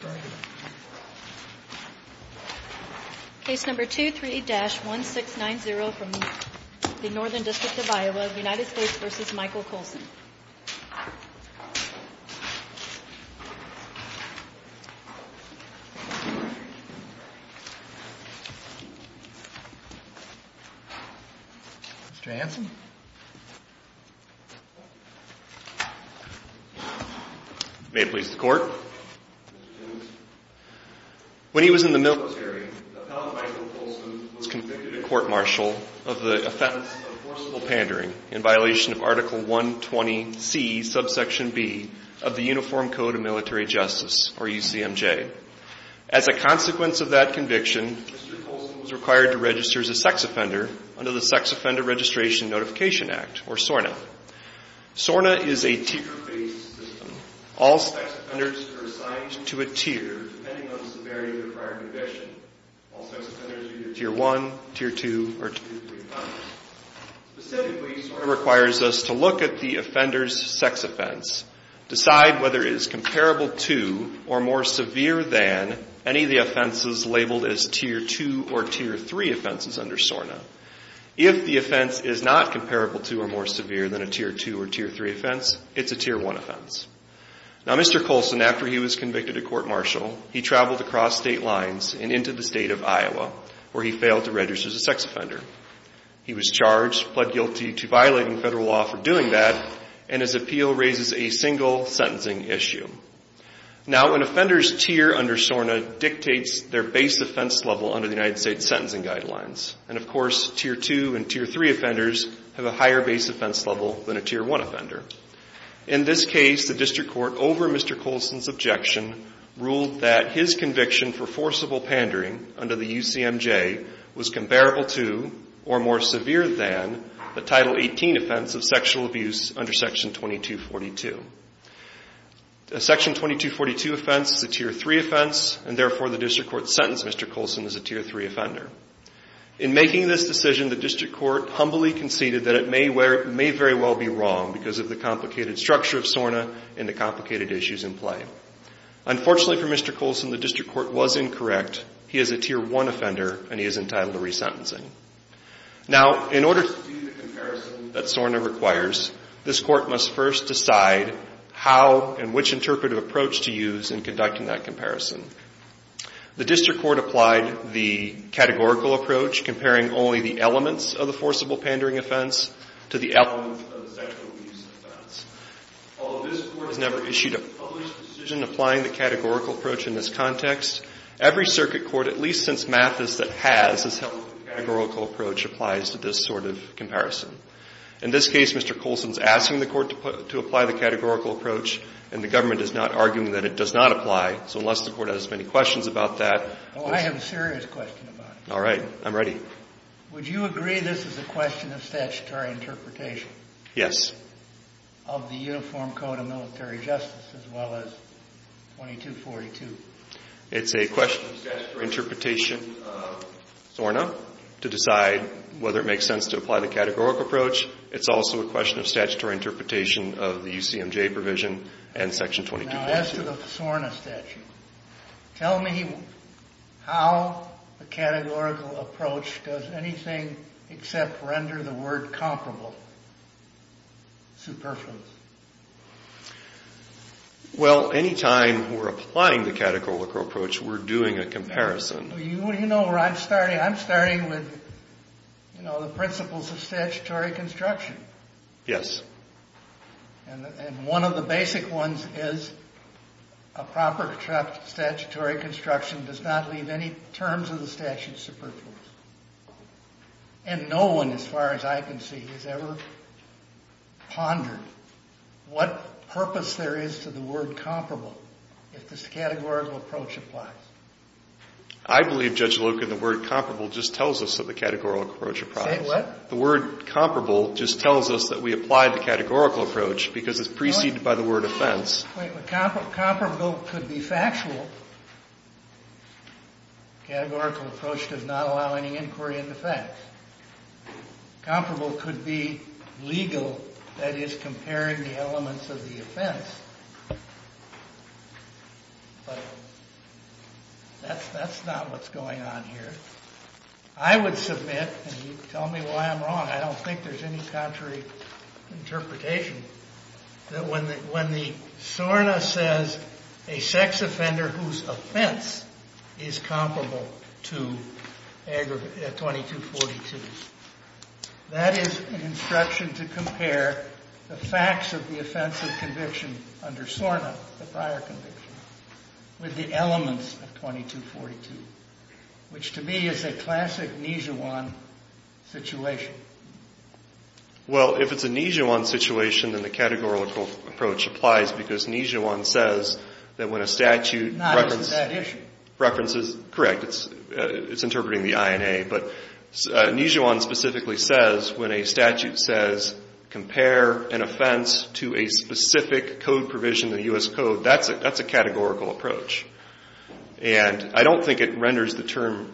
Mr. Hanson May it please the court When he was in the military, appellant Michael Coulson was convicted at court-martial of the offense of forcible pandering in violation of Article 120C, subsection B of the Uniform Code of Military Justice or UCMJ. As a consequence of that conviction, Mr. Coulson was required to register as a sex offender under the Sex Offender Registration and Notification Act or SORNA. SORNA is a tier-based system. All sex offenders are assigned to a tier depending on the severity of their prior conviction. All sex offenders are either Tier 1, Tier 2, or Tier 3 offenders. Specifically, SORNA requires us to look at the offender's sex offense, decide whether it is comparable to or more severe than any of the offenses labeled as Tier 2 or Tier 3 offenses under SORNA. If the offense is not comparable to or more severe than a Tier 2 or Tier 3 offense, it's a Tier 1 offense. Now, Mr. Coulson, after he was convicted at court-martial, he traveled across state lines and into the state of Iowa, where he failed to register as a sex offender. He was charged, pled guilty to violating federal law for doing that, and his appeal raises a single sentencing issue. Now, when an offender's tier under SORNA dictates their base offense level under the United States Sentencing Guidelines, and, of course, Tier 2 and Tier 3 offenders have a higher base offense level than a Tier 1 offender. In this case, the district court over Mr. Coulson's objection ruled that his conviction for forcible pandering under the UCMJ was comparable to or more severe than the Title 18 offense of sexual abuse under Section 2242. A Section 2242 offense is a Tier 3 offense, and, therefore, the district court sentenced Mr. Coulson as a Tier 3 offender. In making this decision, the district court humbly conceded that it may very well be wrong because of the complicated structure of SORNA and the complicated issues in play. Unfortunately for Mr. Coulson, the district court was incorrect. He is a Tier 1 offender, and he is entitled to resentencing. Now, in order to do the comparison that SORNA requires, this court must first decide how and which interpretive approach to use in conducting that comparison. The district court applied the categorical approach, comparing only the elements of the forcible pandering offense to the elements of the sexual abuse offense. Although this court has never issued a published decision applying the categorical approach in this context, every circuit court, at least since Mathis that has, has held that the categorical approach applies to this sort of comparison. In this case, Mr. Coulson's asking the court to apply the categorical approach, and the government is not arguing that it does not apply, so unless the court has many questions about that. Oh, I have a serious question about it. All right. I'm ready. Would you agree this is a question of statutory interpretation? Yes. Of the Uniform Code of Military Justice, as well as 2242? It's a question of statutory interpretation of SORNA to decide whether it makes sense to apply the categorical approach. It's also a question of statutory interpretation of the UCMJ provision and Section 2242. Now, as to the SORNA statute, tell me how the categorical approach does anything except render the word comparable, superfluous. Well, any time we're applying the categorical approach, we're doing a comparison. You know where I'm starting. I'm starting with, you know, the principles of statutory construction. Yes. And one of the basic ones is a proper statutory construction does not leave any terms of the statute superfluous. And no one, as far as I can see, has ever pondered what purpose there is to the word comparable if this categorical approach applies. I believe, Judge Loken, the word comparable just tells us that the categorical approach applies. Say what? The word comparable just tells us that we applied the categorical approach because it's preceded by the word offense. Comparable could be factual. Categorical approach does not allow any inquiry into facts. Comparable could be legal, that is, comparing the elements of the offense. But that's not what's going on here. I would submit, and you can tell me why I'm wrong, I don't think there's any contrary interpretation that when the SORNA says a sex offender whose offense is comparable to 2242, that is an instruction to compare the facts of the offense of conviction under SORNA, the prior conviction, with the elements of 2242, which to me is a classic Nijuan situation. Well, if it's a Nijuan situation, then the categorical approach applies because Nijuan says that when a statute references, correct, it's interpreting the INA, but Nijuan specifically says when a statute says compare an offense to a specific code provision in the U.S. Code, that's a categorical approach. And I don't think it renders the term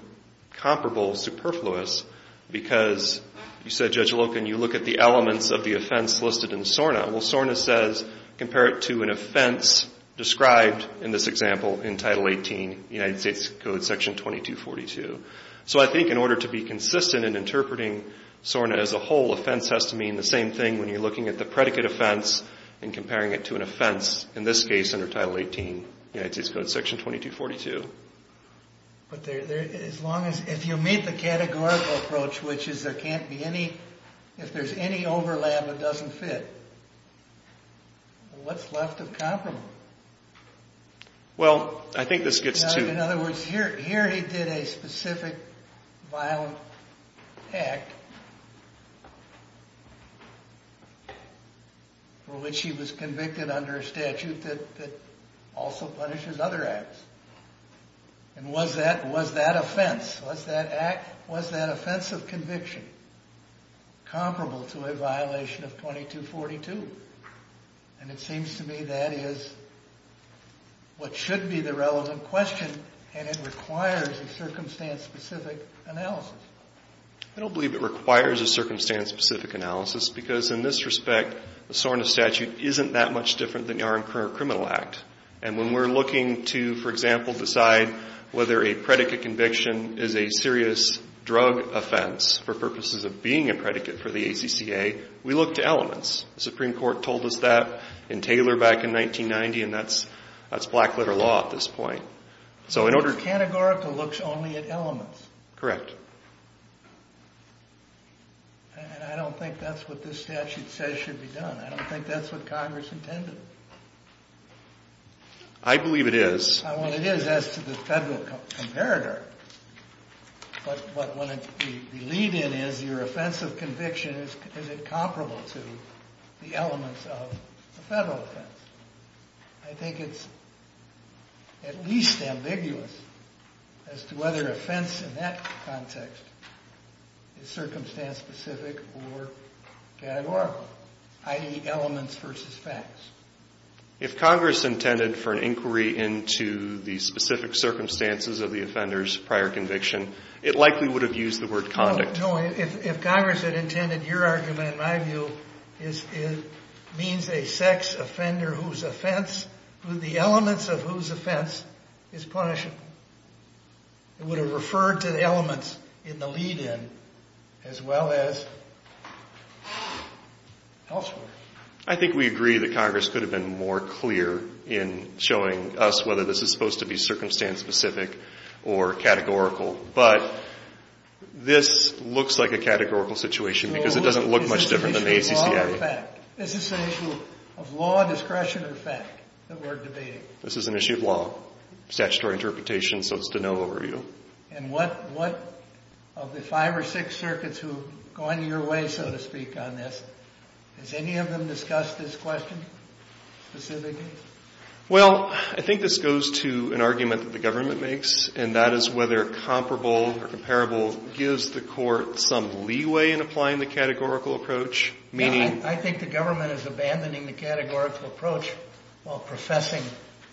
comparable superfluous because you said, Judge Loken, you look at the elements of the offense listed in SORNA. Well, SORNA says compare it to an offense described in this example in Title 18 United States Code Section 2242. So I think in order to be consistent in interpreting SORNA as a whole, offense has to mean the same thing when you're looking at the predicate offense and comparing it to an offense, in this case under Title 18 United States Code Section 2242. But as long as, if you meet the categorical approach, which is there can't be any, if there's any overlap that doesn't fit, what's left of comparable? Well, I think this gets to... Here he did a specific violent act for which he was convicted under a statute that also punishes other acts. And was that offense, was that act, was that offense of conviction comparable to a violation of 2242? And it seems to me that is what should be the relevant question and it requires a circumstance-specific analysis. I don't believe it requires a circumstance-specific analysis because in this respect, the SORNA statute isn't that much different than your current criminal act. And when we're looking to, for example, decide whether a predicate conviction is a serious drug offense for purposes of being a predicate for the ACCA, we look to elements. The Supreme Court told us that in Taylor back in 1990 and that's black-letter law at this point. So in order to... This categorical looks only at elements. Correct. And I don't think that's what this statute says should be done. I don't think that's what Congress intended. I believe it is. Well, it is as to the federal comparator. But what we lead in is your offense of conviction, is it comparable to the elements of the federal offense? I think it's at least ambiguous as to whether offense in that context is circumstance-specific or categorical, i.e., elements versus facts. If Congress intended for an inquiry into the specific circumstances of the offender's prior conviction, it likely would have used the word conduct. No, if Congress had intended your argument, in my view, it means a sex offender whose offense, the elements of whose offense, is punishable. It would have referred to the elements in the lead-in as well as elsewhere. I think we agree that Congress could have been more clear in showing us whether this is supposed to be circumstance-specific or categorical. But this looks like a categorical situation because it doesn't look much different than the ACC argument. Is this an issue of law, discretion, or fact that we're debating? This is an issue of law, statutory interpretation, so it's to no overview. And what of the five or six circuits who have gone your way, so to speak, on this, has any of them discussed this question specifically? Well, I think this goes to an argument that the government makes, and that is whether comparable gives the court some leeway in applying the categorical approach, meaning... I think the government is abandoning the categorical approach while professing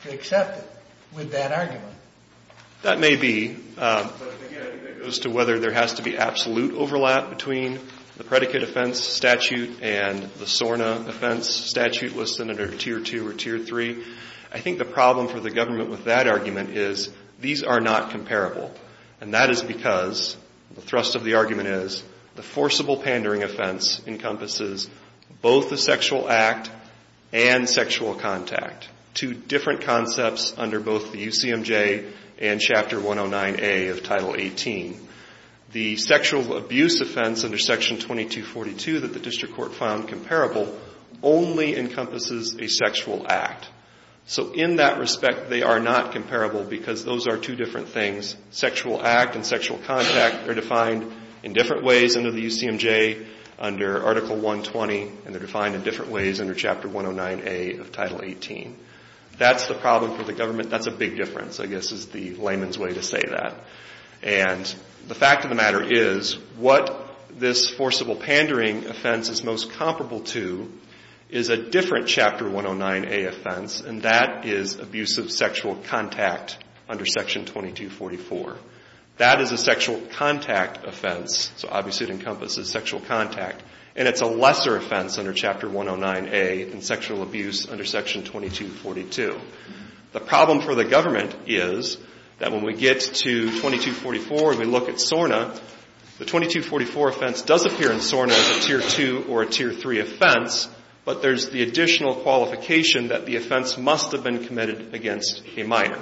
to accept it with that argument. That may be. But again, it goes to whether there has to be absolute overlap between the predicate offense statute and the SORNA offense statute listed under Tier 2 or Tier 3. I think the problem for the government with that argument is these are not comparable, and that is because the thrust of the argument is the forcible pandering offense encompasses both the sexual act and sexual contact, two different concepts under both the UCMJ and Chapter 109A of Title 18. The sexual abuse offense under Section 2242 that the district court found comparable only encompasses a sexual act. So in that respect, they are not comparable because those are two different things. Sexual act and sexual contact are defined in different ways under the UCMJ, under Article 120, and they're defined in different ways under Chapter 109A of Title 18. That's the problem for the government. That's a big difference, I guess, is the layman's way to say that. And the fact of the matter is what this forcible pandering offense is most comparable to is a different Chapter 109A offense, and that is abusive sexual contact under Section 2244. That is a sexual contact offense, so obviously it encompasses sexual contact, and it's a lesser offense under Chapter 109A than sexual abuse under Section 2242. The problem for the government is that when we get to 2244 and we look at SORNA, the 2244 offense does appear in SORNA as a Tier 2 or a Tier 3 offense, but there's the additional qualification that the offense must have been committed against a minor.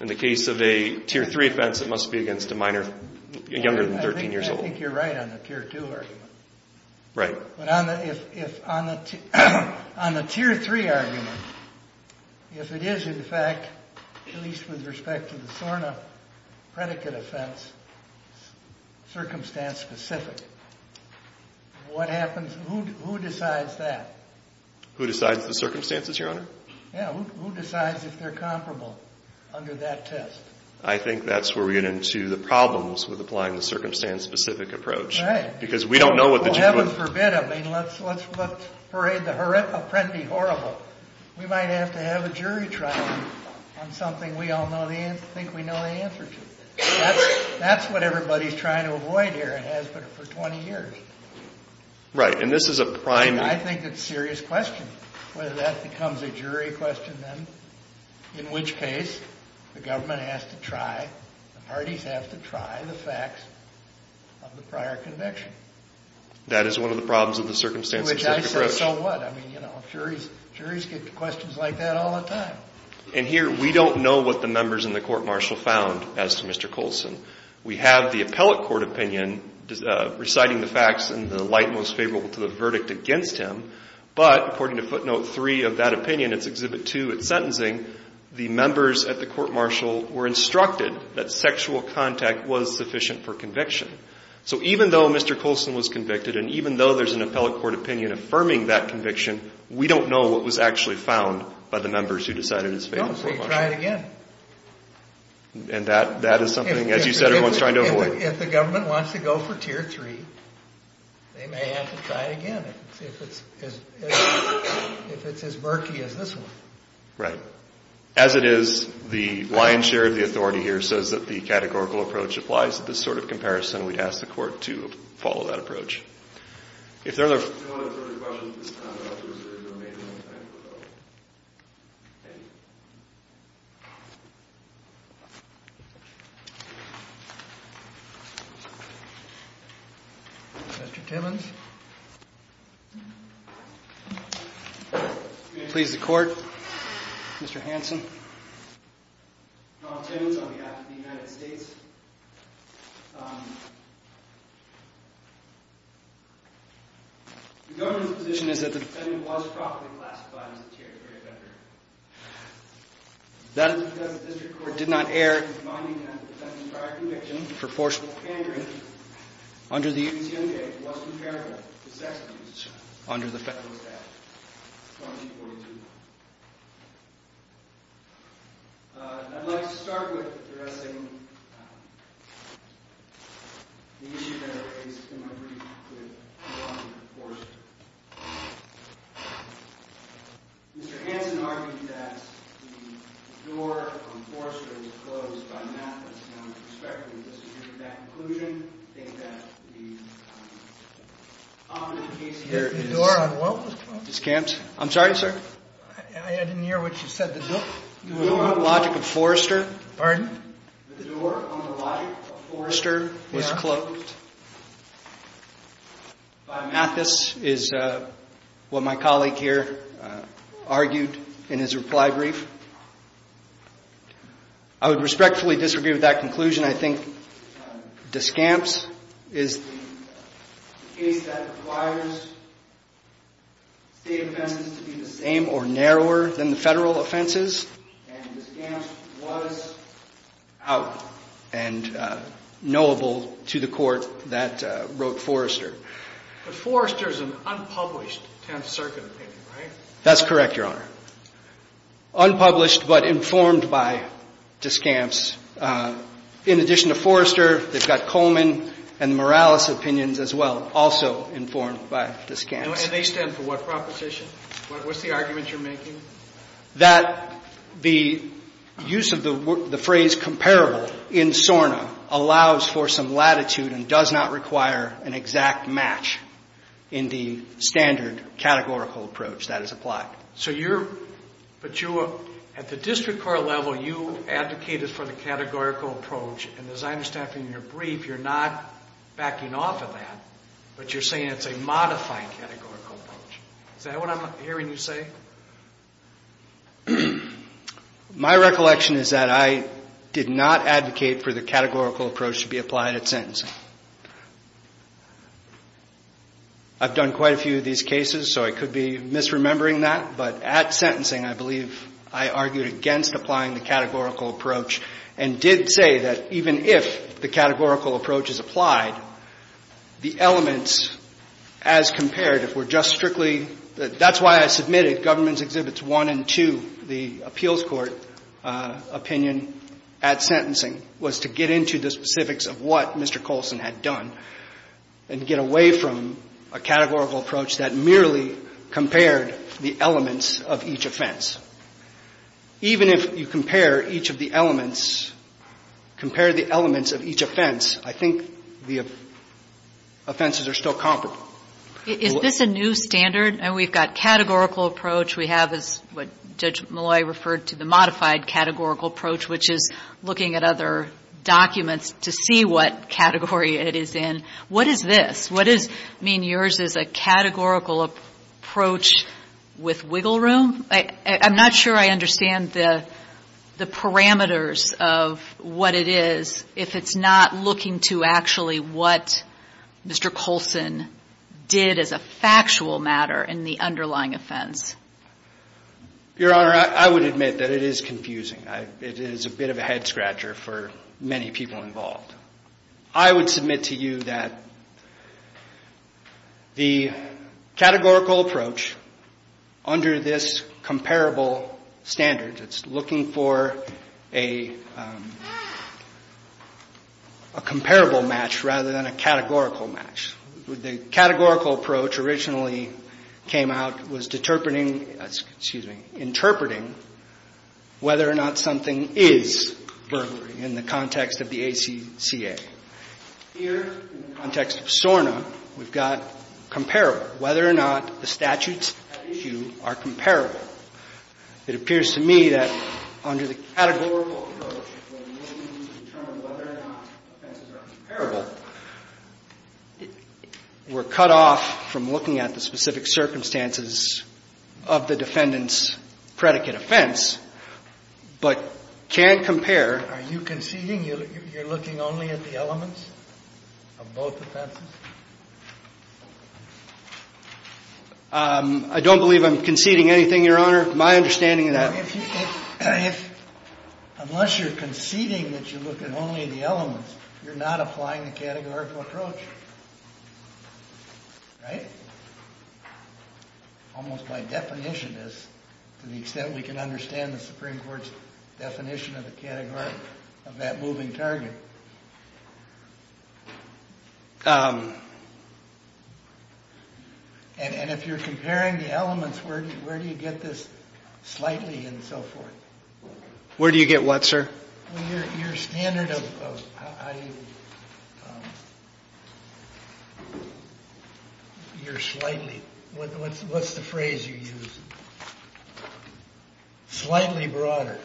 In the case of a Tier 3 offense, it must be against a minor younger than 13 years old. I think you're right on the Tier 2 argument. Right. But on the Tier 3 argument, if it is, in fact, at least with respect to the SORNA predicate offense, circumstance-specific, what happens? Who decides that? Who decides the circumstances, Your Honor? Yeah, who decides if they're comparable under that test? I think that's where we get into the problems with applying the circumstance-specific approach. Right. Because we don't know what the judge would do. Well, heaven forbid. I mean, let's parade the apprendi horrible. We might have to have a jury trial on something we all think we know the answer to. That's what everybody's trying to avoid here in Hasbro for 20 years. Right, and this is a prime – I think it's a serious question whether that becomes a jury question, in which case the government has to try, the parties have to try the facts of the prior conviction. That is one of the problems of the circumstance-specific approach. Which I say, so what? I mean, you know, juries get questions like that all the time. And here we don't know what the members in the court-martial found as to Mr. Coulson. We have the appellate court opinion reciting the facts in the light most favorable to the verdict against him, but according to footnote 3 of that opinion, it's exhibit 2, it's sentencing, the members at the court-martial were instructed that sexual contact was sufficient for conviction. So even though Mr. Coulson was convicted, and even though there's an appellate court opinion affirming that conviction, we don't know what was actually found by the members who decided his fate in the court-martial. Don't say try it again. And that is something, as you said, everyone's trying to avoid. If the government wants to go for tier 3, they may have to try it again. If it's as murky as this one. Right. As it is, the lion's share of the authority here says that the categorical approach applies to this sort of comparison. We'd ask the Court to follow that approach. If there are no further questions at this time, I'd like to reserve the remaining time for questions. Thank you. Thank you. Mr. Timmons. Please, the Court. Mr. Hanson. Donald Timmons on behalf of the United States. The government's position is that the defendant was properly classified as a tier 3 offender. That is because the District Court did not err in finding that the defendant's prior conviction for forceful pandering under the U.S. Young Day was comparable to sex abuse under the federal statute. I'd like to start with addressing the issues that are raised in my brief with the law enforcement. Mr. Hanson argued that the door on Forrester was closed by Mathis, and with respect to that conclusion, I think that the common case here is... The door on Welch was closed? I'm sorry, sir? I didn't hear what you said. The door on the logic of Forrester... Pardon? The door on the logic of Forrester was closed by Mathis is what my colleague here argued in his reply brief. I would respectfully disagree with that conclusion. I think Discamps is the case that requires state offenses to be the same or narrower than the federal offenses. And Discamps was out and knowable to the court that wrote Forrester. But Forrester is an unpublished 10th Circuit opinion, right? That's correct, Your Honor. Unpublished but informed by Discamps. In addition to Forrester, they've got Coleman and Morales' opinions as well, also informed by Discamps. And they stand for what proposition? What's the argument you're making? That the use of the phrase comparable in SORNA allows for some latitude and does not require an exact match in the standard categorical approach that is applied. But at the district court level, you advocated for the categorical approach. And as I understand from your brief, you're not backing off of that, but you're saying it's a modified categorical approach. Is that what I'm hearing you say? My recollection is that I did not advocate for the categorical approach to be applied at sentencing. I've done quite a few of these cases, so I could be misremembering that. But at sentencing, I believe I argued against applying the categorical approach and did say that even if the categorical approach is applied, the elements as compared, if we're just strictly – that's why I submitted Governments Exhibits 1 and 2, the appeals court opinion at sentencing, was to get into the specifics of what Mr. Coulson had done and get away from a categorical approach that merely compared the elements of each offense. Even if you compare each of the elements, compare the elements of each offense, I think the offenses are still comparable. Is this a new standard? And we've got categorical approach. We have what Judge Malloy referred to, the modified categorical approach, which is looking at other documents to see what category it is in. What is this? What does it mean yours is a categorical approach with wiggle room? I'm not sure I understand the parameters of what it is if it's not looking to actually what Mr. Coulson did as a factual matter in the underlying offense. Your Honor, I would admit that it is confusing. It is a bit of a head scratcher for many people involved. I would submit to you that the categorical approach under this comparable standard, it's looking for a comparable match rather than a categorical match. The categorical approach originally came out was interpreting whether or not something is burglary in the context of the ACCA. Here, in the context of SORNA, we've got comparable, whether or not the statutes at issue are comparable. It appears to me that under the categorical approach, where we determine whether or not offenses are comparable, we're cut off from looking at the specific circumstances of the defendant's predicate offense, but can't compare. Are you conceding? You're looking only at the elements of both offenses? I don't believe I'm conceding anything, Your Honor, my understanding of that. Unless you're conceding that you're looking only at the elements, you're not applying the categorical approach, right? Almost by definition, to the extent we can understand the Supreme Court's definition of the category of that moving target. And if you're comparing the elements, where do you get this slightly and so forth? Where do you get what, sir? Your standard of, you're slightly. What's the phrase you use? Slightly broader.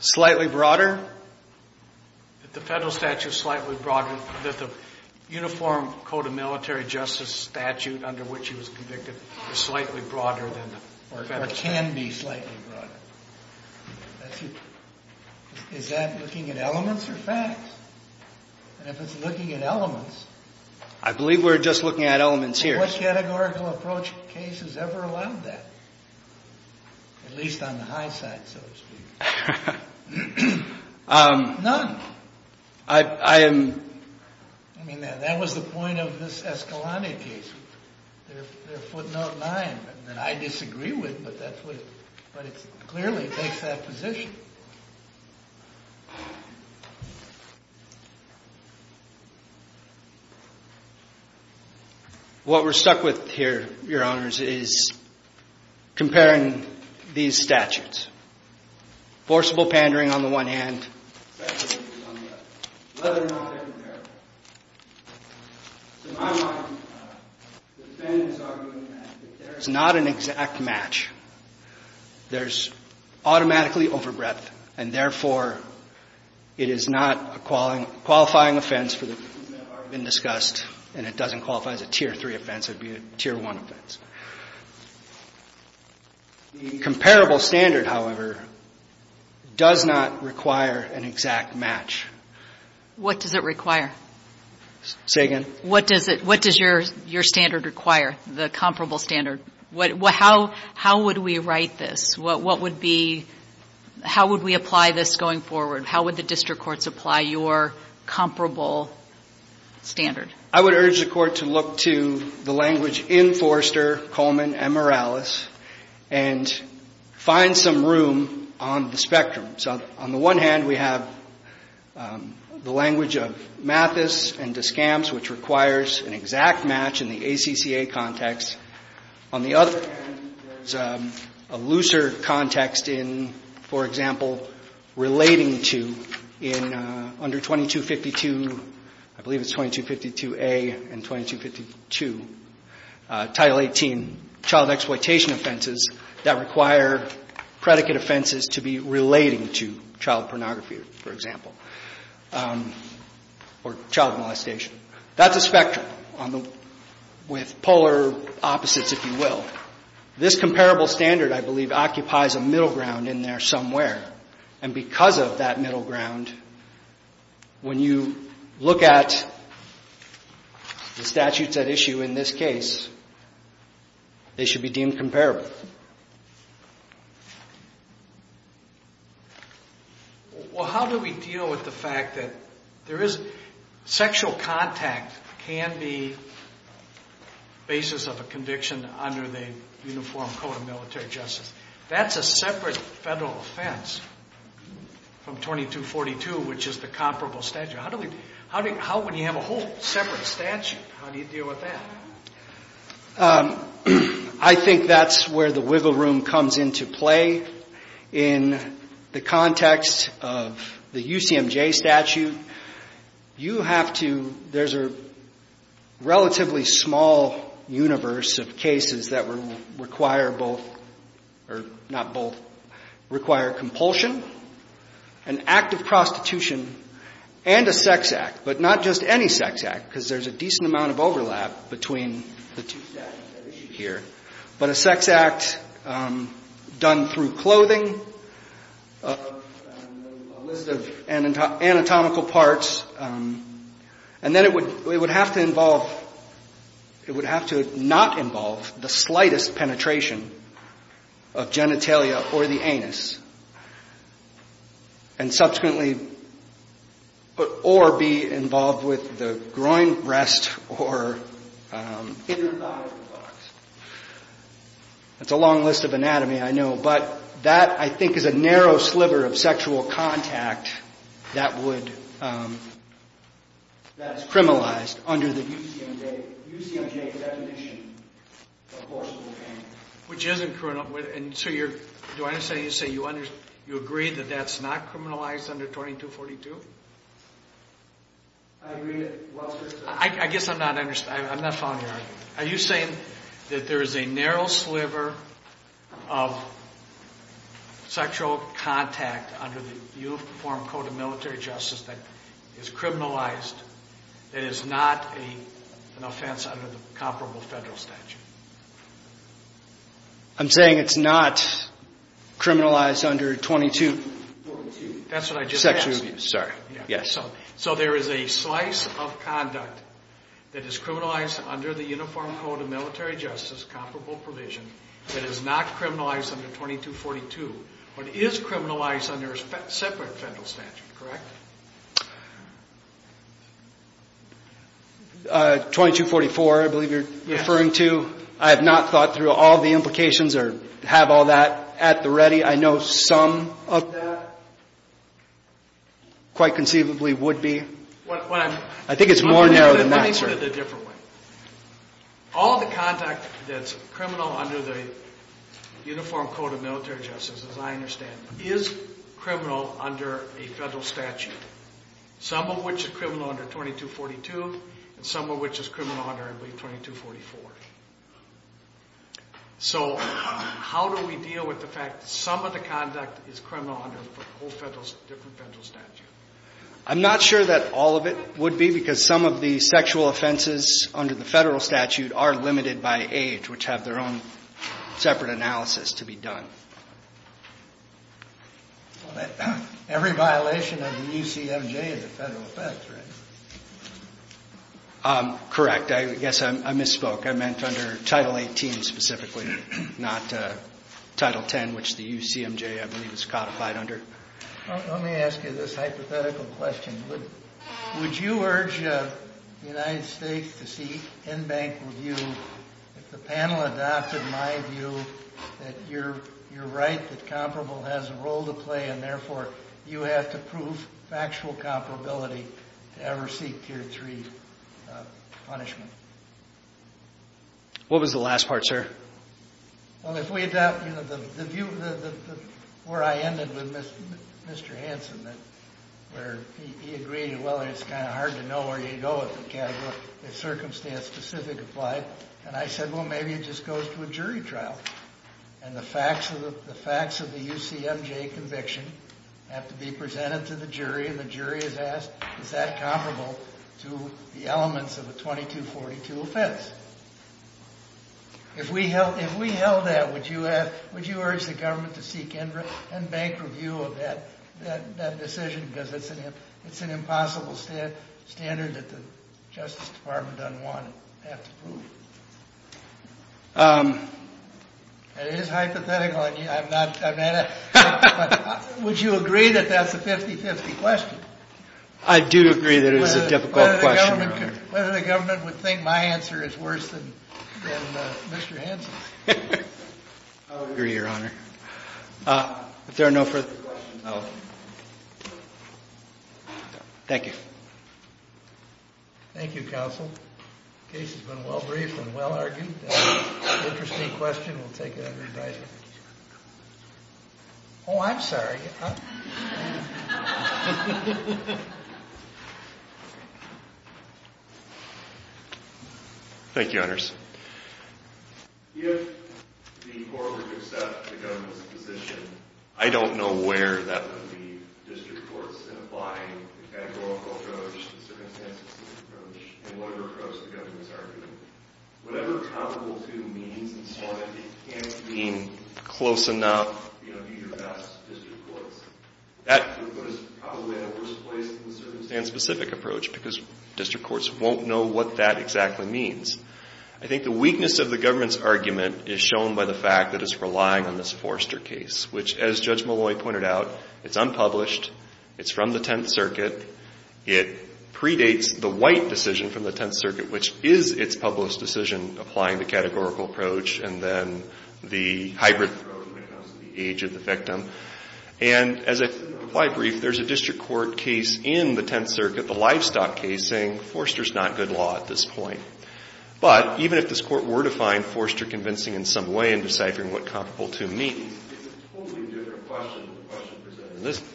Slightly broader? That the federal statute is slightly broader, that the uniform code of military justice statute under which he was convicted is slightly broader than the federal statute. Or can be slightly broader. Is that looking at elements or facts? And if it's looking at elements. I believe we're just looking at elements here. What categorical approach case has ever allowed that? At least on the high side, so to speak. None. I am. I mean, that was the point of this Escalante case. Their footnote line that I disagree with, but it clearly takes that position. What we're stuck with here, Your Honors, is comparing these statutes. Forcible pandering on the one hand, whether or not they're comparable. In my mind, the defendant is arguing that there is not an exact match. There's automatically over breadth. And therefore, it is not a qualifying offense for the reasons that have already been discussed. And it doesn't qualify as a tier three offense. It would be a tier one offense. The comparable standard, however, does not require an exact match. What does it require? Say again? What does your standard require, the comparable standard? How would we write this? What would be – how would we apply this going forward? How would the district courts apply your comparable standard? I would urge the court to look to the language in Forrester, Coleman, and Morales and find some room on the spectrum. So on the one hand, we have the language of Mathis and Descamps, which requires an exact match in the ACCA context. On the other hand, there's a looser context in, for example, relating to in under 2252, I believe it's 2252A and 2252, Title 18 child exploitation offenses that require predicate offenses to be relating to child pornography, for example, or child molestation. That's a spectrum with polar opposites, if you will. This comparable standard, I believe, occupies a middle ground in there somewhere. And because of that middle ground, when you look at the statutes at issue in this case, they should be deemed comparable. Well, how do we deal with the fact that there is – sexual contact can be the basis of a conviction under the Uniform Code of Military Justice. That's a separate federal offense from 2242, which is the comparable statute. How would you have a whole separate statute? How do you deal with that? I think that's where the wiggle room comes into play. In the context of the UCMJ statute, you have to – there's a relatively small universe of cases that require both – or not both – require compulsion, an act of prostitution, and a sex act. But not just any sex act, because there's a decent amount of overlap between the two statutes at issue here. But a sex act done through clothing, a list of anatomical parts. And then it would have to involve – it would have to not involve the slightest penetration of genitalia or the anus. And subsequently – or be involved with the groin rest or inner thigh. That's a long list of anatomy, I know. But that, I think, is a narrow sliver of sexual contact that would – that's criminalized under the UCMJ definition of forcible pain. Which isn't criminal. And so you're – do I understand you to say you agree that that's not criminalized under 2242? I agree that – well, sir. I guess I'm not – I'm not following you. Are you saying that there is a narrow sliver of sexual contact under the Uniform Code of Military Justice that is criminalized that is not an offense under the comparable federal statute? I'm saying it's not criminalized under 2242. That's what I just asked. Sexual abuse, sorry. Yes. So there is a slice of conduct that is criminalized under the Uniform Code of Military Justice, comparable provision, that is not criminalized under 2242, but is criminalized under a separate federal statute, correct? 2244, I believe you're referring to. I have not thought through all the implications or have all that at the ready. I know some of that quite conceivably would be. I think it's more narrow than that, sir. Let me put it a different way. All the contact that's criminal under the Uniform Code of Military Justice, as I understand, is criminal under a federal statute, some of which is criminal under 2242 and some of which is criminal under, I believe, 2244. So how do we deal with the fact that some of the conduct is criminal under a whole different federal statute? I'm not sure that all of it would be because some of the sexual offenses under the federal statute are limited by age, which have their own separate analysis to be done. Every violation of the UCMJ is a federal offense, right? Correct. Yes, I misspoke. I meant under Title 18 specifically, not Title 10, which the UCMJ, I believe, is codified under. Let me ask you this hypothetical question. Would you urge the United States to seek in-bank review if the panel adopted my view that you're right that comparable has a role to play and, therefore, you have to prove factual comparability to ever seek Tier 3 punishment? What was the last part, sir? Well, if we adopt the view where I ended with Mr. Hanson, where he agreed, well, it's kind of hard to know where you go with the category, if circumstance-specific applied. And I said, well, maybe it just goes to a jury trial. And the facts of the UCMJ conviction have to be presented to the jury, and the jury is asked, is that comparable to the elements of a 2242 offense? If we held that, would you urge the government to seek in-bank review of that decision because it's an impossible standard that the Justice Department doesn't want to have to prove? It is hypothetical. I'm not at it. But would you agree that that's a 50-50 question? I do agree that it is a difficult question. Whether the government would think my answer is worse than Mr. Hanson's. I would agree, Your Honor. If there are no further questions, I'll... Thank you. Thank you, Counsel. The case has been well-briefed and well-argued. Interesting question. We'll take it under advisement. Oh, I'm sorry. Thank you, Honors. If the court would accept the government's position, I don't know where that would be district courts in applying the categorical approach, the circumstances approach, and whatever approach the government's arguing. Whatever comparable to means, as long as it can't mean close enough, you know, be your best district courts. That would put us probably in a worse place than the circumstance-specific approach because district courts won't know what that exactly means. I think the weakness of the government's argument is shown by the fact that it's relying on this Forster case, which, as Judge Molloy pointed out, it's unpublished. It's from the Tenth Circuit. It predates the White decision from the Tenth Circuit, which is its published decision applying the categorical approach and then the hybrid approach because of the age of the victim. And, as I said in the reply brief, there's a district court case in the Tenth Circuit, Forster's not good law at this point. But even if this court were to find Forster convincing in some way in deciphering what comparable to means, it's a totally different question than the question presented in this case.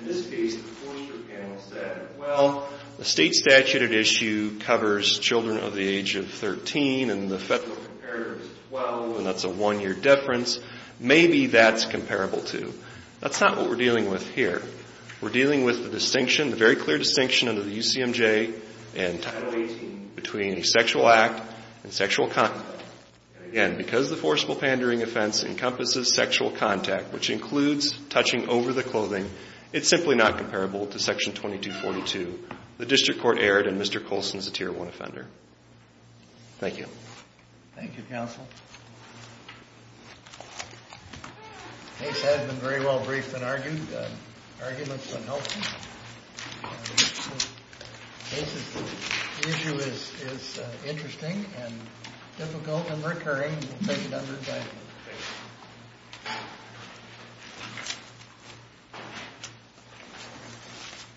In this case, the Forster panel said, well, the state statute at issue covers children of the age of 13 and the federal comparator is 12 and that's a one-year difference. Maybe that's comparable to. That's not what we're dealing with here. We're dealing with the distinction, the very clear distinction under the UCMJ and Title 18 between a sexual act and sexual contact. Again, because the forcible pandering offense encompasses sexual contact, which includes touching over the clothing, it's simply not comparable to Section 2242. The district court erred and Mr. Colson is a Tier 1 offender. Thank you. Thank you, counsel. The case has been very well briefed and argued. The argument's been helpful. The issue is interesting and difficult and recurring. We'll take it under advisement.